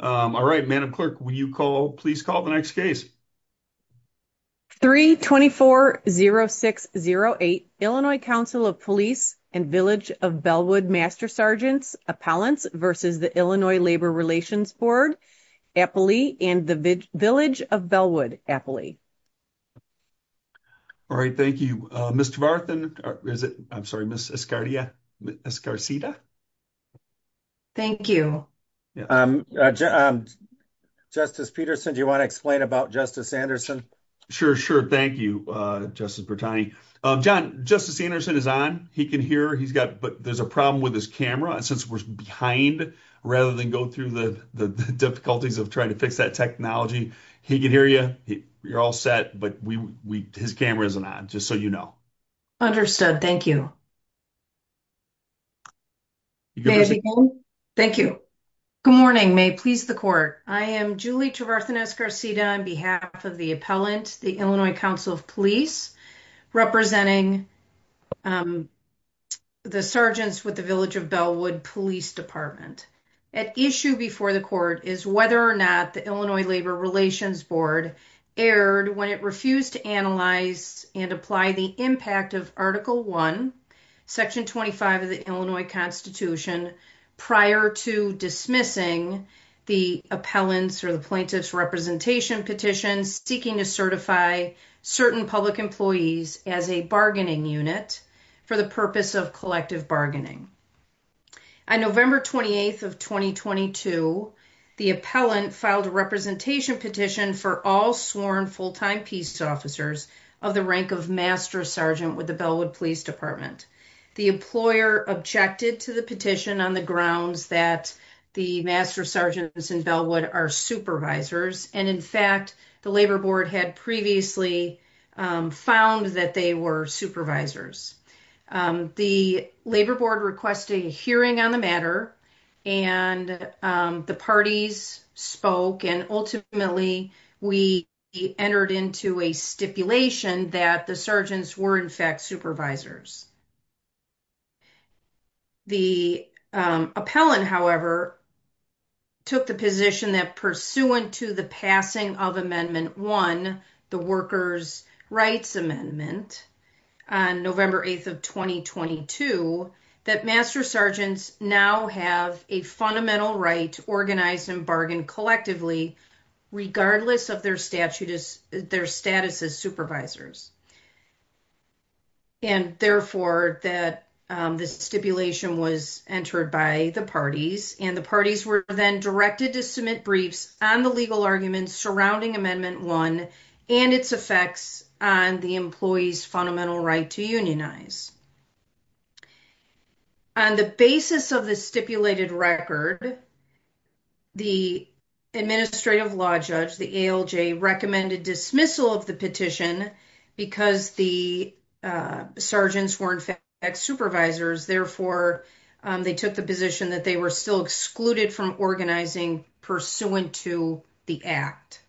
324-0608, Illinois Council of Police and Village of Bellwood Master Sergeants, Appellants v. Illinois Labor Relations Board, Appley, and the Village of Bellwood, Appley. All right, thank you. Ms. Tavarthan, I'm sorry, Ms. Escarcita? Thank you. Justice Peterson, do you want to explain about Justice Anderson? Sure. Sure. Thank you, Justice Bertani. John, Justice Anderson is on. He can hear. He's got, but there's a problem with his camera, and since we're behind, rather than go through the difficulties of trying to fix that technology, he can hear you. You're all set, but his camera isn't on, just so you know. Understood. Thank you. Thank you. Good morning. May it please the Court. I am Julie Tavarthan Escarcita on behalf of the Appellant, the Illinois Council of Police, representing the Sergeants with the Village of Bellwood Police Department. At issue before the Court is whether or not the Illinois Labor Relations Board erred when it refused to analyze and apply the impact of Article I, Section 25 of the Illinois Constitution, prior to dismissing the Appellant's or the Plaintiff's representation petitions seeking to certify certain public employees as a bargaining unit for the purpose of collective bargaining. On November 28th of 2022, the Appellant filed a representation petition for all sworn full-time police officers of the rank of Master Sergeant with the Bellwood Police Department. The employer objected to the petition on the grounds that the Master Sergeants in Bellwood are supervisors, and in fact, the Labor Board had previously found that they were supervisors. The Labor Board requested a hearing on the matter, and the parties spoke, and ultimately, we entered into a stipulation that the Sergeants were in fact supervisors. The Appellant, however, took the position that pursuant to the passing of Amendment 1, the Workers' Rights Amendment, on November 8th of 2022, that Master Sergeants now have a fundamental right to organize and bargain collectively, regardless of their status as supervisors. And therefore, that this stipulation was entered by the parties, and the parties were then directed to submit briefs on the legal arguments surrounding Amendment 1 and its effects on the employees' fundamental right to unionize. On the basis of the stipulated record, the Administrative Law Judge, the ALJ, recommended dismissal of the petition because the Sergeants were in fact supervisors. Therefore, they took the position that they were still excluded from organizing pursuant to the Act.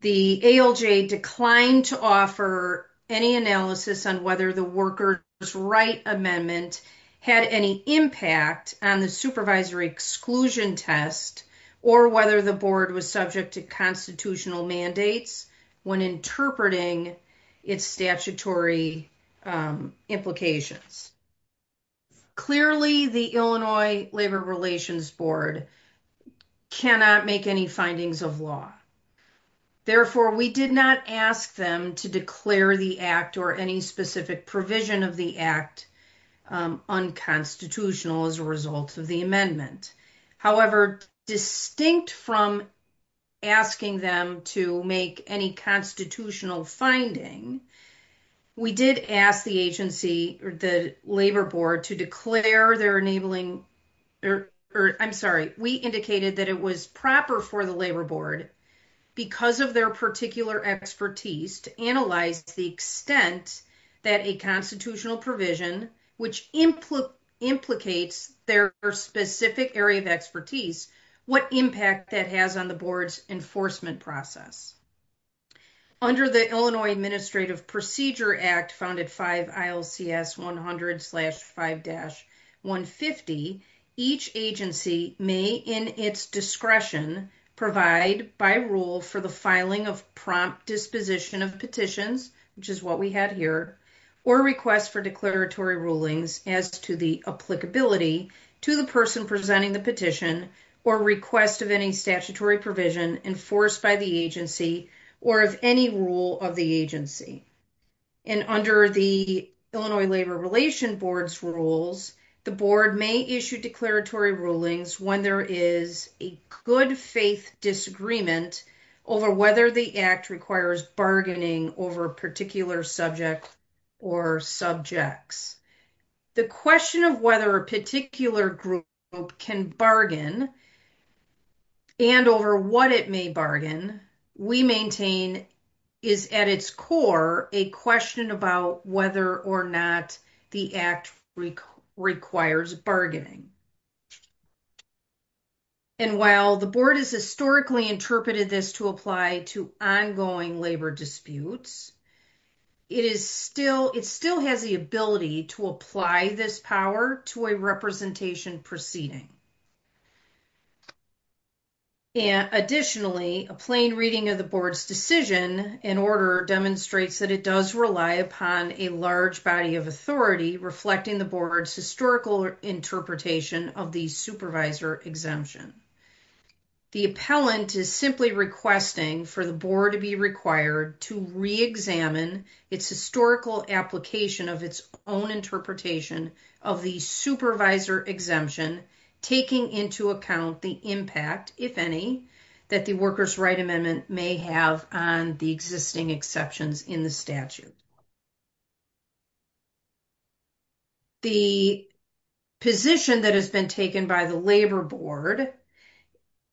The ALJ declined to offer any analysis on whether the Workers' Rights Amendment had any impact on the supervisory exclusion test, or whether the Board was subject to constitutional mandates when interpreting its statutory implications. Clearly, the Illinois Labor Relations Board cannot make any findings of law. Therefore, we did not ask them to declare the Act or any specific provision of the Act unconstitutional as a result of the amendment. However, distinct from asking them to make any constitutional finding, we did ask the agency, or the Labor Board, to declare their enabling, or I'm sorry, we indicated that it was proper for the Labor Board, because of their particular expertise, to analyze the extent that a constitutional provision, which implicates their specific area of expertise, what impact that has on the Board's enforcement process. Under the Illinois Administrative Procedure Act, founded 5 ILCS 100-5-150, each agency may, in its discretion, provide by rule for the filing of prompt disposition of petitions, which is what we had here, or request for declaratory rulings as to the applicability to the person presenting the petition, or request of any statutory provision enforced by the agency, or of any rule of the agency. And under the Illinois Labor Relations Board's rules, the Board may issue declaratory rulings when there is a good-faith disagreement over whether the Act requires bargaining over a particular subject or subjects. The question of whether a particular group can bargain, and over what it may bargain, we maintain is at its core a question about whether or not the Act requires bargaining. And while the Board has historically interpreted this to apply to ongoing labor disputes, it still has the ability to apply this power to a representation proceeding. Additionally, a plain reading of the Board's decision and order demonstrates that it does rely upon a large body of authority, reflecting the Board's historical interpretation of the supervisor exemption. The appellant is simply requesting for the Board to be required to re-examine its historical application of its own interpretation of the supervisor exemption, taking into account the impact, if any, that the Workers' Right Amendment may have on the existing exceptions in the statute. The position that has been taken by the Labor Board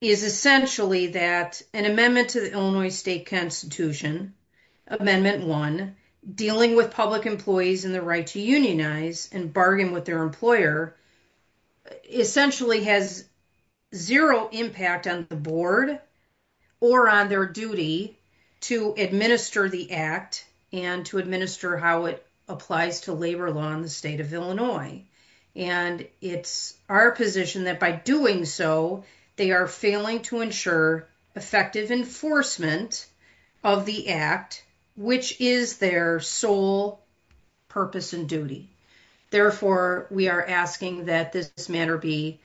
is essentially that an amendment to the Illinois State Constitution, Amendment 1, dealing with public employees and the right to unionize and bargain with their employer, essentially has zero impact on the Board or on their duty to administer the Act and to administer how it applies to labor law in the state of Illinois. And it's our position that by doing so, they are failing to ensure effective enforcement of the Act, which is their sole purpose and duty. Therefore, we are asking that this matter be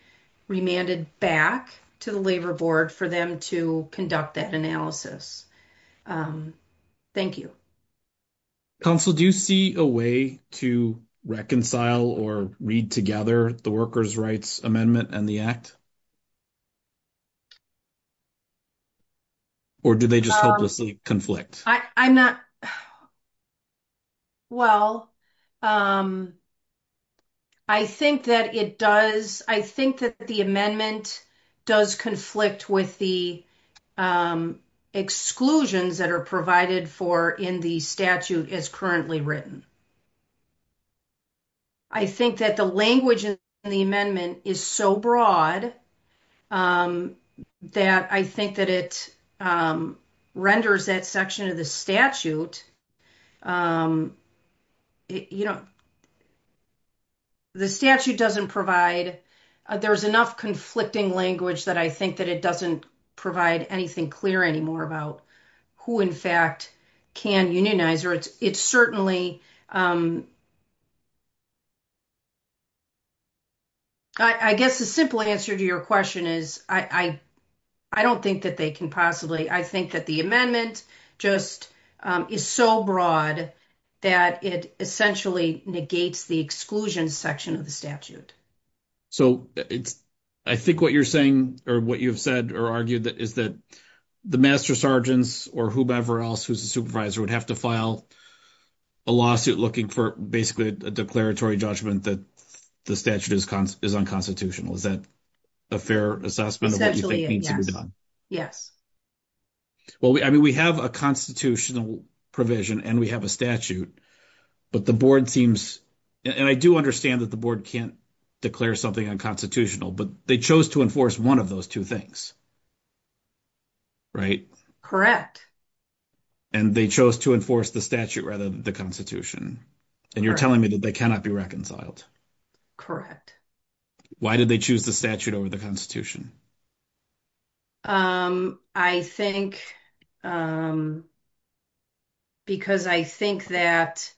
remanded back to the Labor Board for them to conduct that analysis. Thank you. Counsel, do you see a way to reconcile or read together the Workers' Rights Amendment and the Act? Or do they just hopelessly conflict? I'm not. Well, I think that it does. I think that the amendment does conflict with the exclusions that are provided for in the statute as currently written. I think that the language in the amendment is so broad that I think that it renders that section of the statute, you know, the statute doesn't provide, there's enough conflicting language that I think that it doesn't provide anything clear anymore about who, in fact, can unionize or it's certainly, I guess the simple answer to your question is, I don't think that they can possibly, I think that the amendment just is so broad that it essentially negates the exclusion section of the statute. So, I think what you're saying, or what you've said, or argued that is that the master sergeants or whoever else who's a supervisor would have to file a lawsuit looking for basically a declaratory judgment that the statute is unconstitutional. Is that a fair assessment of what you think needs to be done? Well, I mean, we have a constitutional provision and we have a statute, but the board seems, and I do understand that the board can't declare something unconstitutional, but they chose to enforce one of those two things. Right? Correct. And they chose to enforce the statute rather than the constitution. And you're telling me that they cannot be reconciled. Why did they choose the statute over the constitution? I think because I think that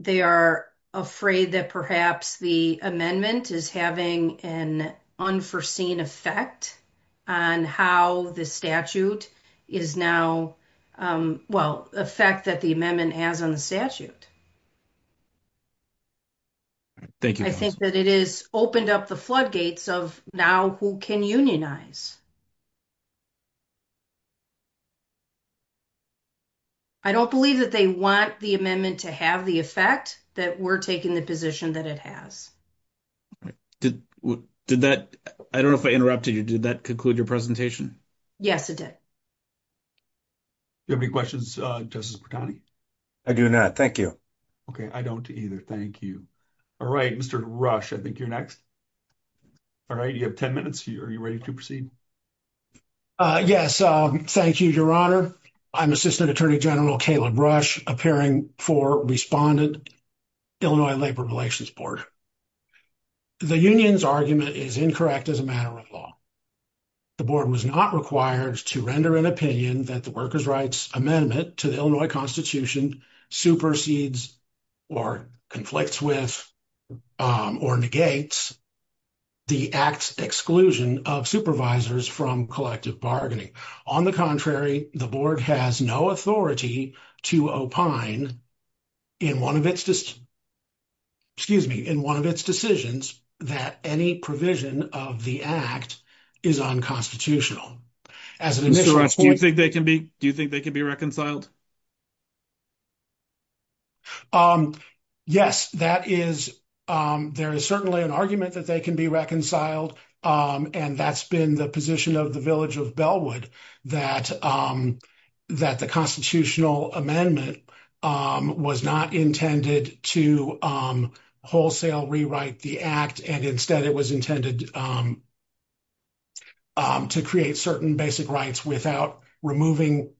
they are afraid that perhaps the amendment is having an unforeseen effect on how the statute is now, well, the effect that the amendment has on the statute. Thank you. I think that it is opened up the floodgates of now who can unionize. I don't believe that they want the amendment to have the effect that we're taking the position that it has. Did that, I don't know if I interrupted you, did that conclude your presentation? Yes, it did. Do you have any questions, Justice Bertani? I do not. Thank you. Okay. I don't either. Thank you. All right. Mr. Rush, I think you're next. All right. You have 10 minutes. Are you ready to proceed? Yes. Thank you, Your Honor. I'm Assistant Attorney General Caleb Rush, appearing for Respondent, Illinois Labor Relations Board. The union's argument is incorrect as a matter of law. The board was not required to render an opinion that the workers' rights amendment to the Illinois Constitution supersedes or conflicts with or negates the act's exclusion of supervisors from collective bargaining. On the contrary, the board has no authority to opine in one of its decisions that any provision of the act is unconstitutional. Mr. Rush, do you think they can be reconciled? Yes, that is, there is certainly an argument that they can be reconciled, and that's been the position of the Village of Bellwood, that that the constitutional amendment was not intended to wholesale rewrite the act, and instead it was intended to create certain basic rights without removing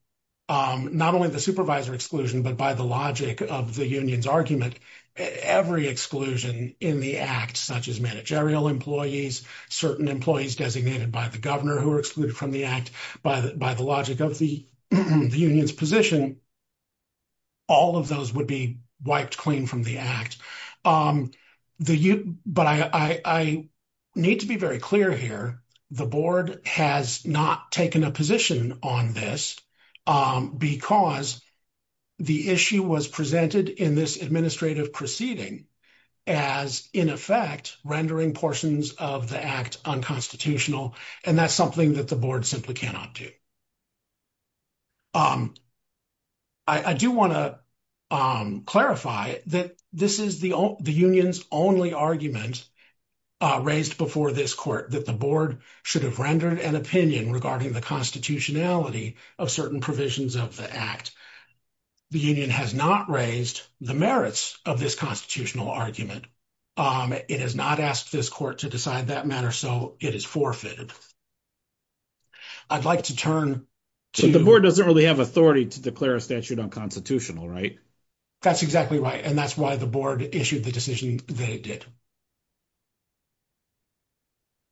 not only the supervisor exclusion, but by the logic of the union's argument, every exclusion in the act, such as managerial employees, certain employees designated by the governor who are excluded from the act, by the logic of the union's position, all of those would be wiped clean from the act. But I need to be very clear here, the board has not taken a position on this because the issue was presented in this administrative proceeding as, in effect, rendering portions of the act unconstitutional, and that's something that the board simply cannot do. I do want to clarify that this is the union's only argument raised before this court, that the board should have rendered an opinion regarding the constitutionality of certain provisions of the act. The union has not raised the merits of this constitutional argument. It has not asked this court to decide that matter, so it is forfeited. I'd like to turn to... But the board doesn't really have authority to declare a statute unconstitutional, right? That's exactly right, and that's why the board issued the decision that it did.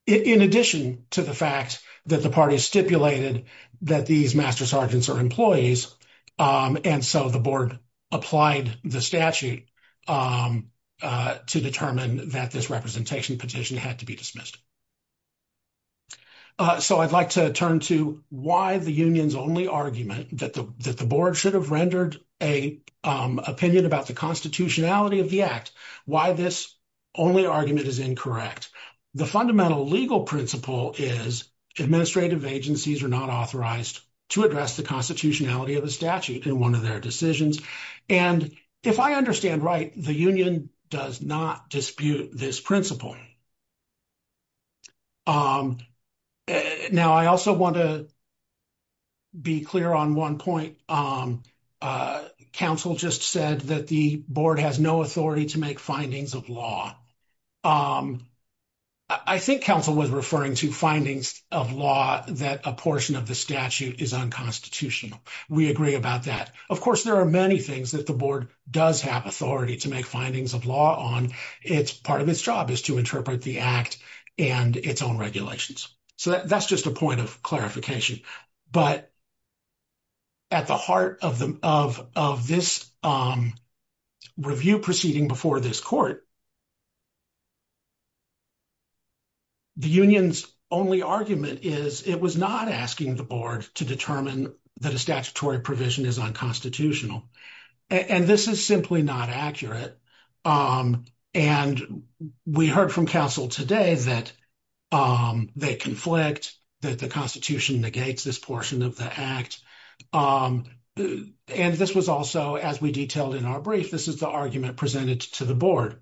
In addition to the fact that the party stipulated that these master sergeants are employees, and so the board applied the statute to determine that this representation petition had to be dismissed. So I'd like to turn to why the union's only argument that the board should have rendered an opinion about the constitutionality of the act, why this only argument is incorrect. The fundamental legal principle is administrative agencies are not authorized to address the constitutionality of a statute in one of their decisions. And if I understand right, the union does not dispute this principle. Now, I also want to be clear on one point. Council just said that the board has no authority to make findings of law. I think council was referring to findings of law that a portion of the statute is unconstitutional. We agree about that. Of course, there are many things that the board does have authority to make findings of law on. It's part of its job is to interpret the act and its own regulations. So that's just a point of clarification, but at the heart of this review proceeding before this court, the union's only argument is it was not asking the board to determine that a statutory provision is unconstitutional. And this is simply not accurate. And we heard from council today that they conflict, that the constitution negates this portion of the act. And this was also, as we detailed in our brief, this is the argument presented to the board.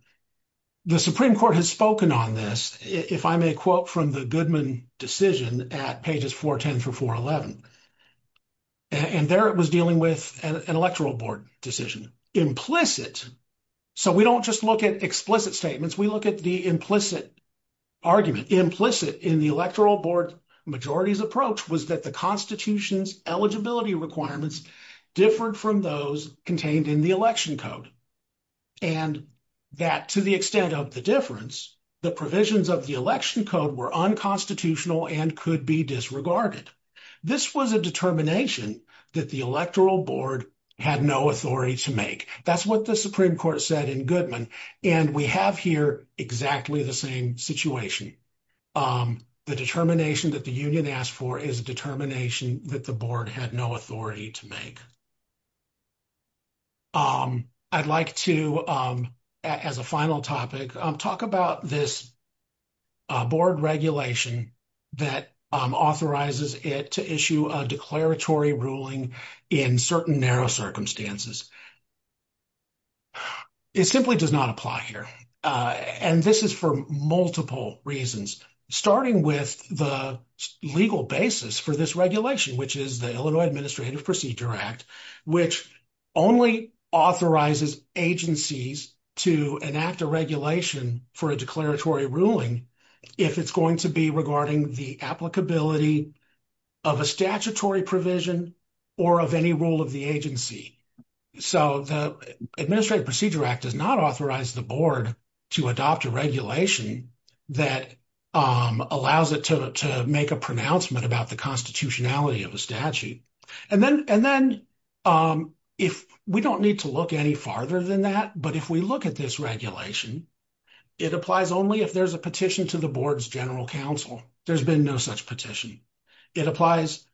The Supreme Court has spoken on this, if I may quote from the Goodman decision at pages 410 through 411. And there it was dealing with an electoral board decision. Implicit, so we don't just look at explicit statements, we look at the implicit argument. Implicit in the electoral board majority's approach was that the constitution's eligibility requirements differed from those contained in the election code. And that to the extent of the difference, the provisions of the election code were unconstitutional and could be disregarded. This was a determination that the electoral board had no authority to make. That's what the Supreme Court said in Goodman. And we have here exactly the same situation. The determination that the union asked for is a determination that the board had no authority to make. I'd like to, as a final topic, talk about this board regulation that authorizes it to issue a declaratory ruling in certain narrow circumstances. It simply does not apply here. And this is for multiple reasons, starting with the legal basis for this regulation, which is the Illinois Administrative Procedure Act. Which only authorizes agencies to enact a regulation for a declaratory ruling if it's going to be regarding the applicability of a statutory provision or of any rule of the agency. So the Administrative Procedure Act does not authorize the board to adopt a regulation that allows it to make a pronouncement about the constitutionality of a statute. And then we don't need to look any farther than that. But if we look at this regulation, it applies only if there's a petition to the board's general counsel. There's been no such petition. It applies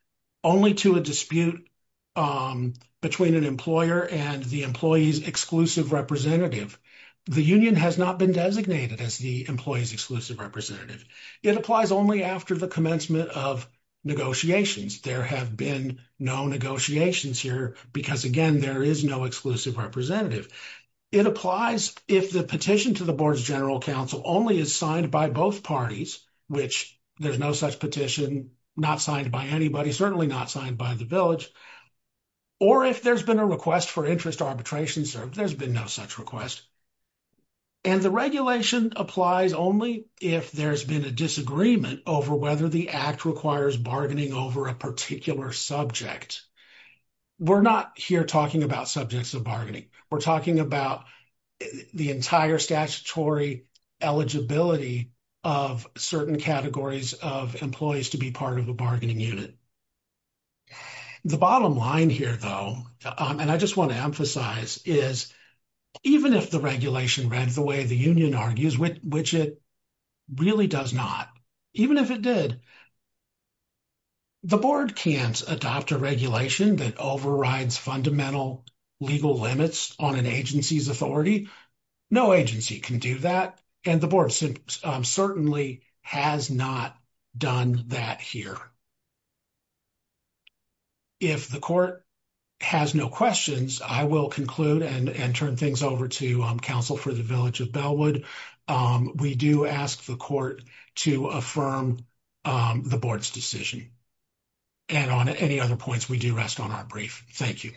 only to a dispute between an employer and the employee's exclusive representative. The union has not been designated as the employee's exclusive representative. It applies only after the commencement of negotiations. There have been no negotiations here because, again, there is no exclusive representative. It applies if the petition to the board's general counsel only is signed by both parties, which there's no such petition, not signed by anybody, certainly not signed by the village. Or if there's been a request for interest arbitration served, there's been no such request. And the regulation applies only if there's been a disagreement over whether the Act requires bargaining over a particular subject. We're not here talking about subjects of bargaining. We're talking about the entire statutory eligibility of certain categories of employees to be part of a bargaining unit. The bottom line here, though, and I just want to emphasize, is even if the regulation read the way the union argues, which it really does not, even if it did, the board can't adopt a regulation that overrides fundamental legal limits on an agency's authority. No agency can do that. And the board certainly has not done that here. If the court has no questions, I will conclude and turn things over to counsel for the village of Bellwood. We do ask the court to affirm the board's decision. And on any other points, we do rest on our brief. Thank you.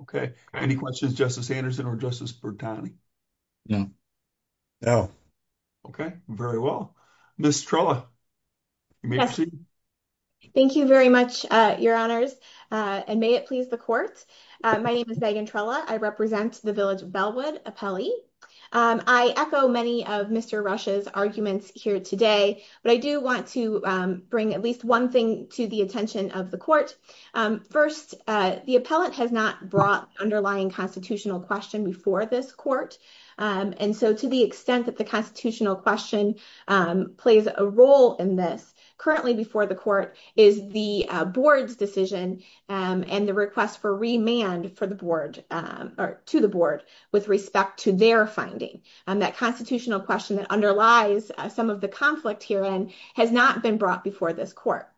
Okay, any questions, Justice Anderson or Justice Bertani? No. Okay, very well. Ms. Trella, you may proceed. Thank you very much, your honors, and may it please the court. My name is Megan Trella. I represent the village of Bellwood appellee. I echo many of Mr. Rush's arguments here today, but I do want to bring at least one thing to the attention of the court. First, the appellate has not brought the underlying constitutional question before this court. And so to the extent that the constitutional question plays a role in this, currently before the court is the board's decision and the request for remand to the board with respect to their finding. And that constitutional question that underlies some of the conflict herein has not been brought before this court.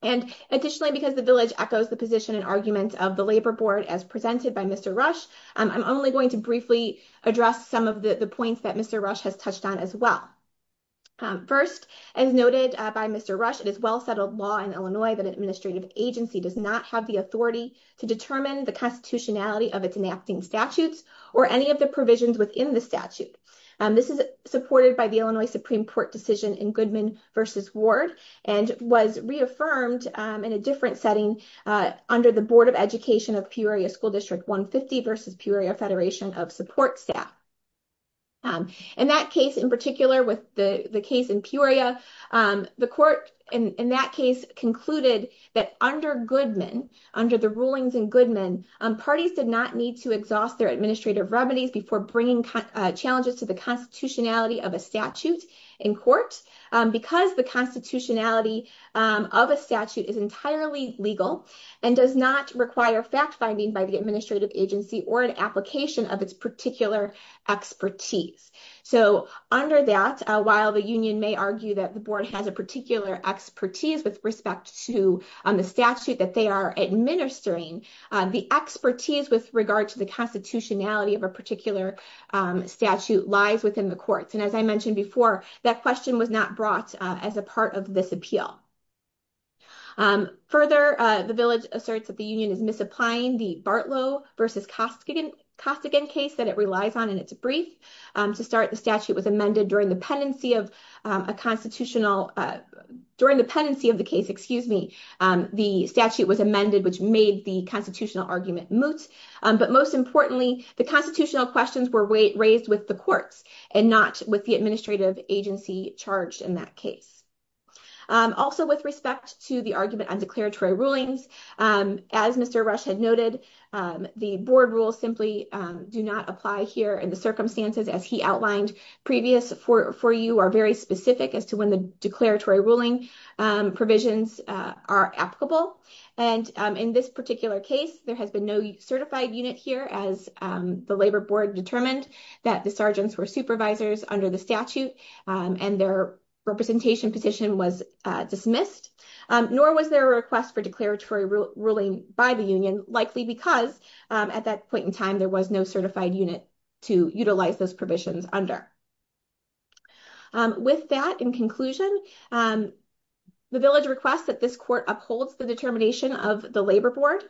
And additionally, because the village echoes the position and argument of the labor board as presented by Mr. Rush, I'm only going to briefly address some of the points that Mr. Rush has touched on as well. First, as noted by Mr. Rush, it is well-settled law in Illinois that an administrative agency does not have the authority to determine the constitutionality of its enacting statutes or any of the provisions within the statute. This is supported by the Illinois Supreme Court decision in Goodman v. Ward and was reaffirmed in a different setting under the Board of Education of Peoria School District 150 v. Peoria Federation of Support Staff. In that case in particular, with the case in Peoria, the court in that case concluded that under Goodman, under the rulings in Goodman, parties did not need to exhaust their administrative remedies before bringing challenges to the constitutionality of a statute in court. Because the constitutionality of a statute is entirely legal and does not require fact-finding by the administrative agency or an application of its particular expertise. So under that, while the union may argue that the board has a particular expertise with respect to the statute that they are administering, the expertise with regard to the constitutionality of a particular statute lies within the courts. As I mentioned before, that question was not brought as a part of this appeal. Further, the village asserts that the union is misapplying the Bartlow v. Costigan case that it relies on in its brief. To start, the statute was amended during the pendency of a constitutional, during the pendency of the case, excuse me, the statute was amended which made the constitutional argument moot. But most importantly, the constitutional questions were raised with the and not with the administrative agency charged in that case. Also, with respect to the argument on declaratory rulings, as Mr. Rush had noted, the board rules simply do not apply here in the circumstances as he outlined previous for you, are very specific as to when the declaratory ruling provisions are applicable. And in this particular case, there has been no certified unit here as the labor board determined that sergeants were supervisors under the statute and their representation petition was dismissed. Nor was there a request for declaratory ruling by the union likely because at that point in time, there was no certified unit to utilize those provisions under. With that in conclusion, the village requests that this court upholds the determination of the labor board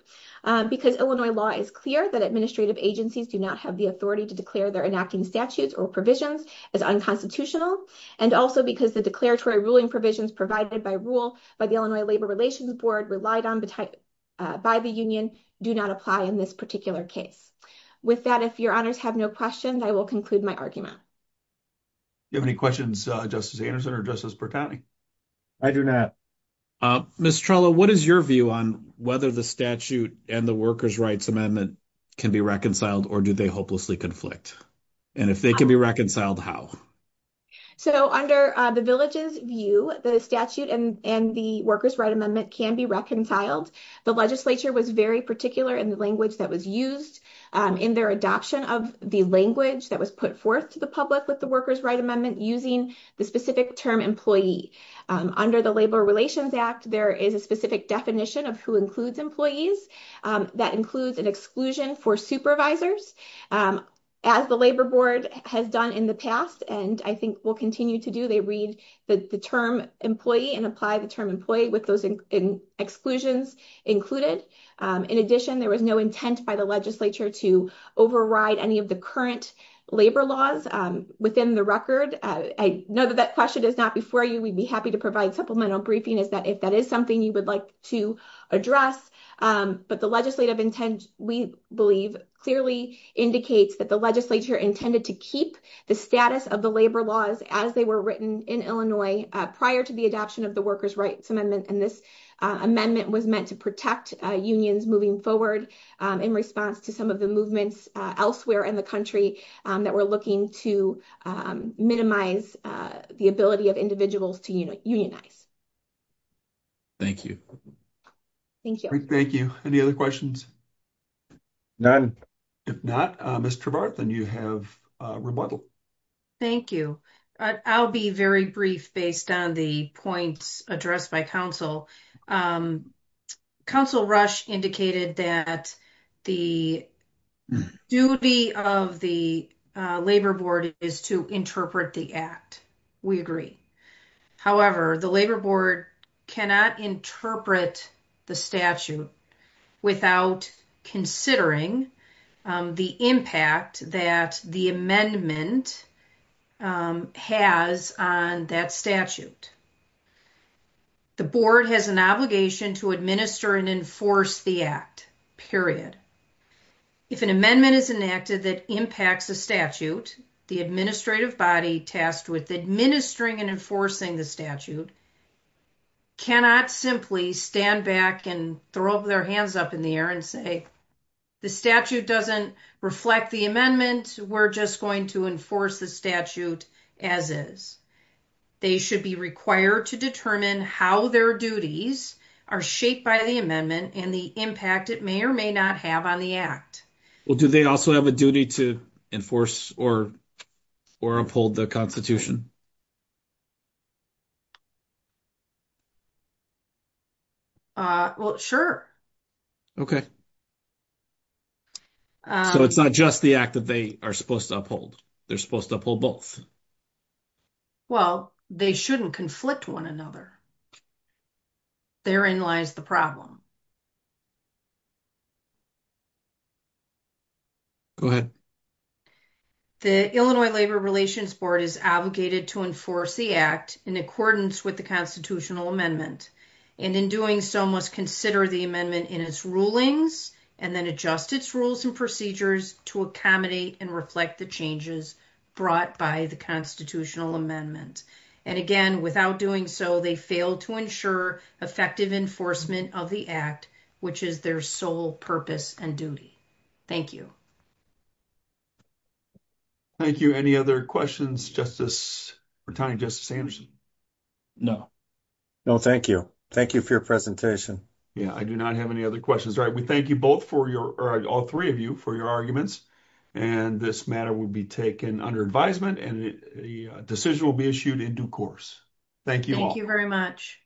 because Illinois law is clear that administrative agencies do not have the authority to declare their enacting statutes or provisions as unconstitutional. And also because the declaratory ruling provisions provided by rule by the Illinois Labor Relations Board relied on by the union do not apply in this particular case. With that, if your honors have no questions, I will conclude my argument. Do you have any questions, Justice Anderson or Justice Bertani? I do not. Ms. Trello, what is your view on whether the statute and the Workers' Rights Amendment can be reconciled or do they hopelessly conflict? And if they can be reconciled, how? So under the village's view, the statute and the Workers' Rights Amendment can be reconciled. The legislature was very particular in the language that was used in their adoption of the language that was put forth to the public with the Workers' Rights Amendment using the specific term employee. Under the Labor Relations Act, there is a specific definition of who includes employees that includes an exclusion for supervisors. As the labor board has done in the past and I think will continue to do, they read the term employee and apply the term employee with those exclusions included. In addition, there was no intent by the legislature to override any of the current labor laws within the record. I know that that question is not before you. We'd be happy to provide supplemental briefing if that is something you would like to address. But the legislative intent, we believe, clearly indicates that the legislature intended to keep the status of the labor laws as they were written in Illinois prior to the adoption of the Workers' Rights Amendment. And this amendment was meant to protect unions moving forward in response to some of the movements elsewhere in the country that were looking to minimize the ability of individuals to unionize. Thank you. Thank you. Thank you. Any other questions? None. If not, Ms. Travart, then you have rebuttal. Thank you. I'll be very brief based on the points addressed by counsel. Counsel Rush indicated that the duty of the labor board is to interpret the act. We agree. However, the labor board cannot interpret the statute without considering the impact that the amendment has on that statute. The board has an obligation to administer and enforce the act, period. If an amendment is enacted that impacts a statute, the administrative body tasked with administering and enforcing the statute cannot simply stand back and throw their hands up in the air and say, the statute doesn't reflect the amendment. We're just going to enforce the statute as is. They should be required to determine how their duties are shaped by the amendment and the impact it may or may not have on the act. Well, do they also have a duty to enforce or uphold the constitution? Well, sure. Okay. So, it's not just the act that they are supposed to uphold. They're supposed to uphold both. Well, they shouldn't conflict one another. Therein lies the problem. Go ahead. The Illinois Labor Relations Board is obligated to enforce the act in accordance with the constitutional amendment, and in doing so, must consider the amendment in its rulings, and then adjust its rules and procedures to accommodate and reflect the changes brought by the constitutional amendment. And again, without doing so, they fail to ensure effective enforcement of the act, which is their sole purpose and duty. Thank you. Thank you. Any other questions, Ret. Justice Anderson? No. No, thank you. Thank you for your presentation. Yeah, I do not have any other questions. All right. We thank you both for your, or all three of you, for your arguments. And this matter will be taken under advisement, and a decision will be issued in due course. Thank you all. Thank you very much.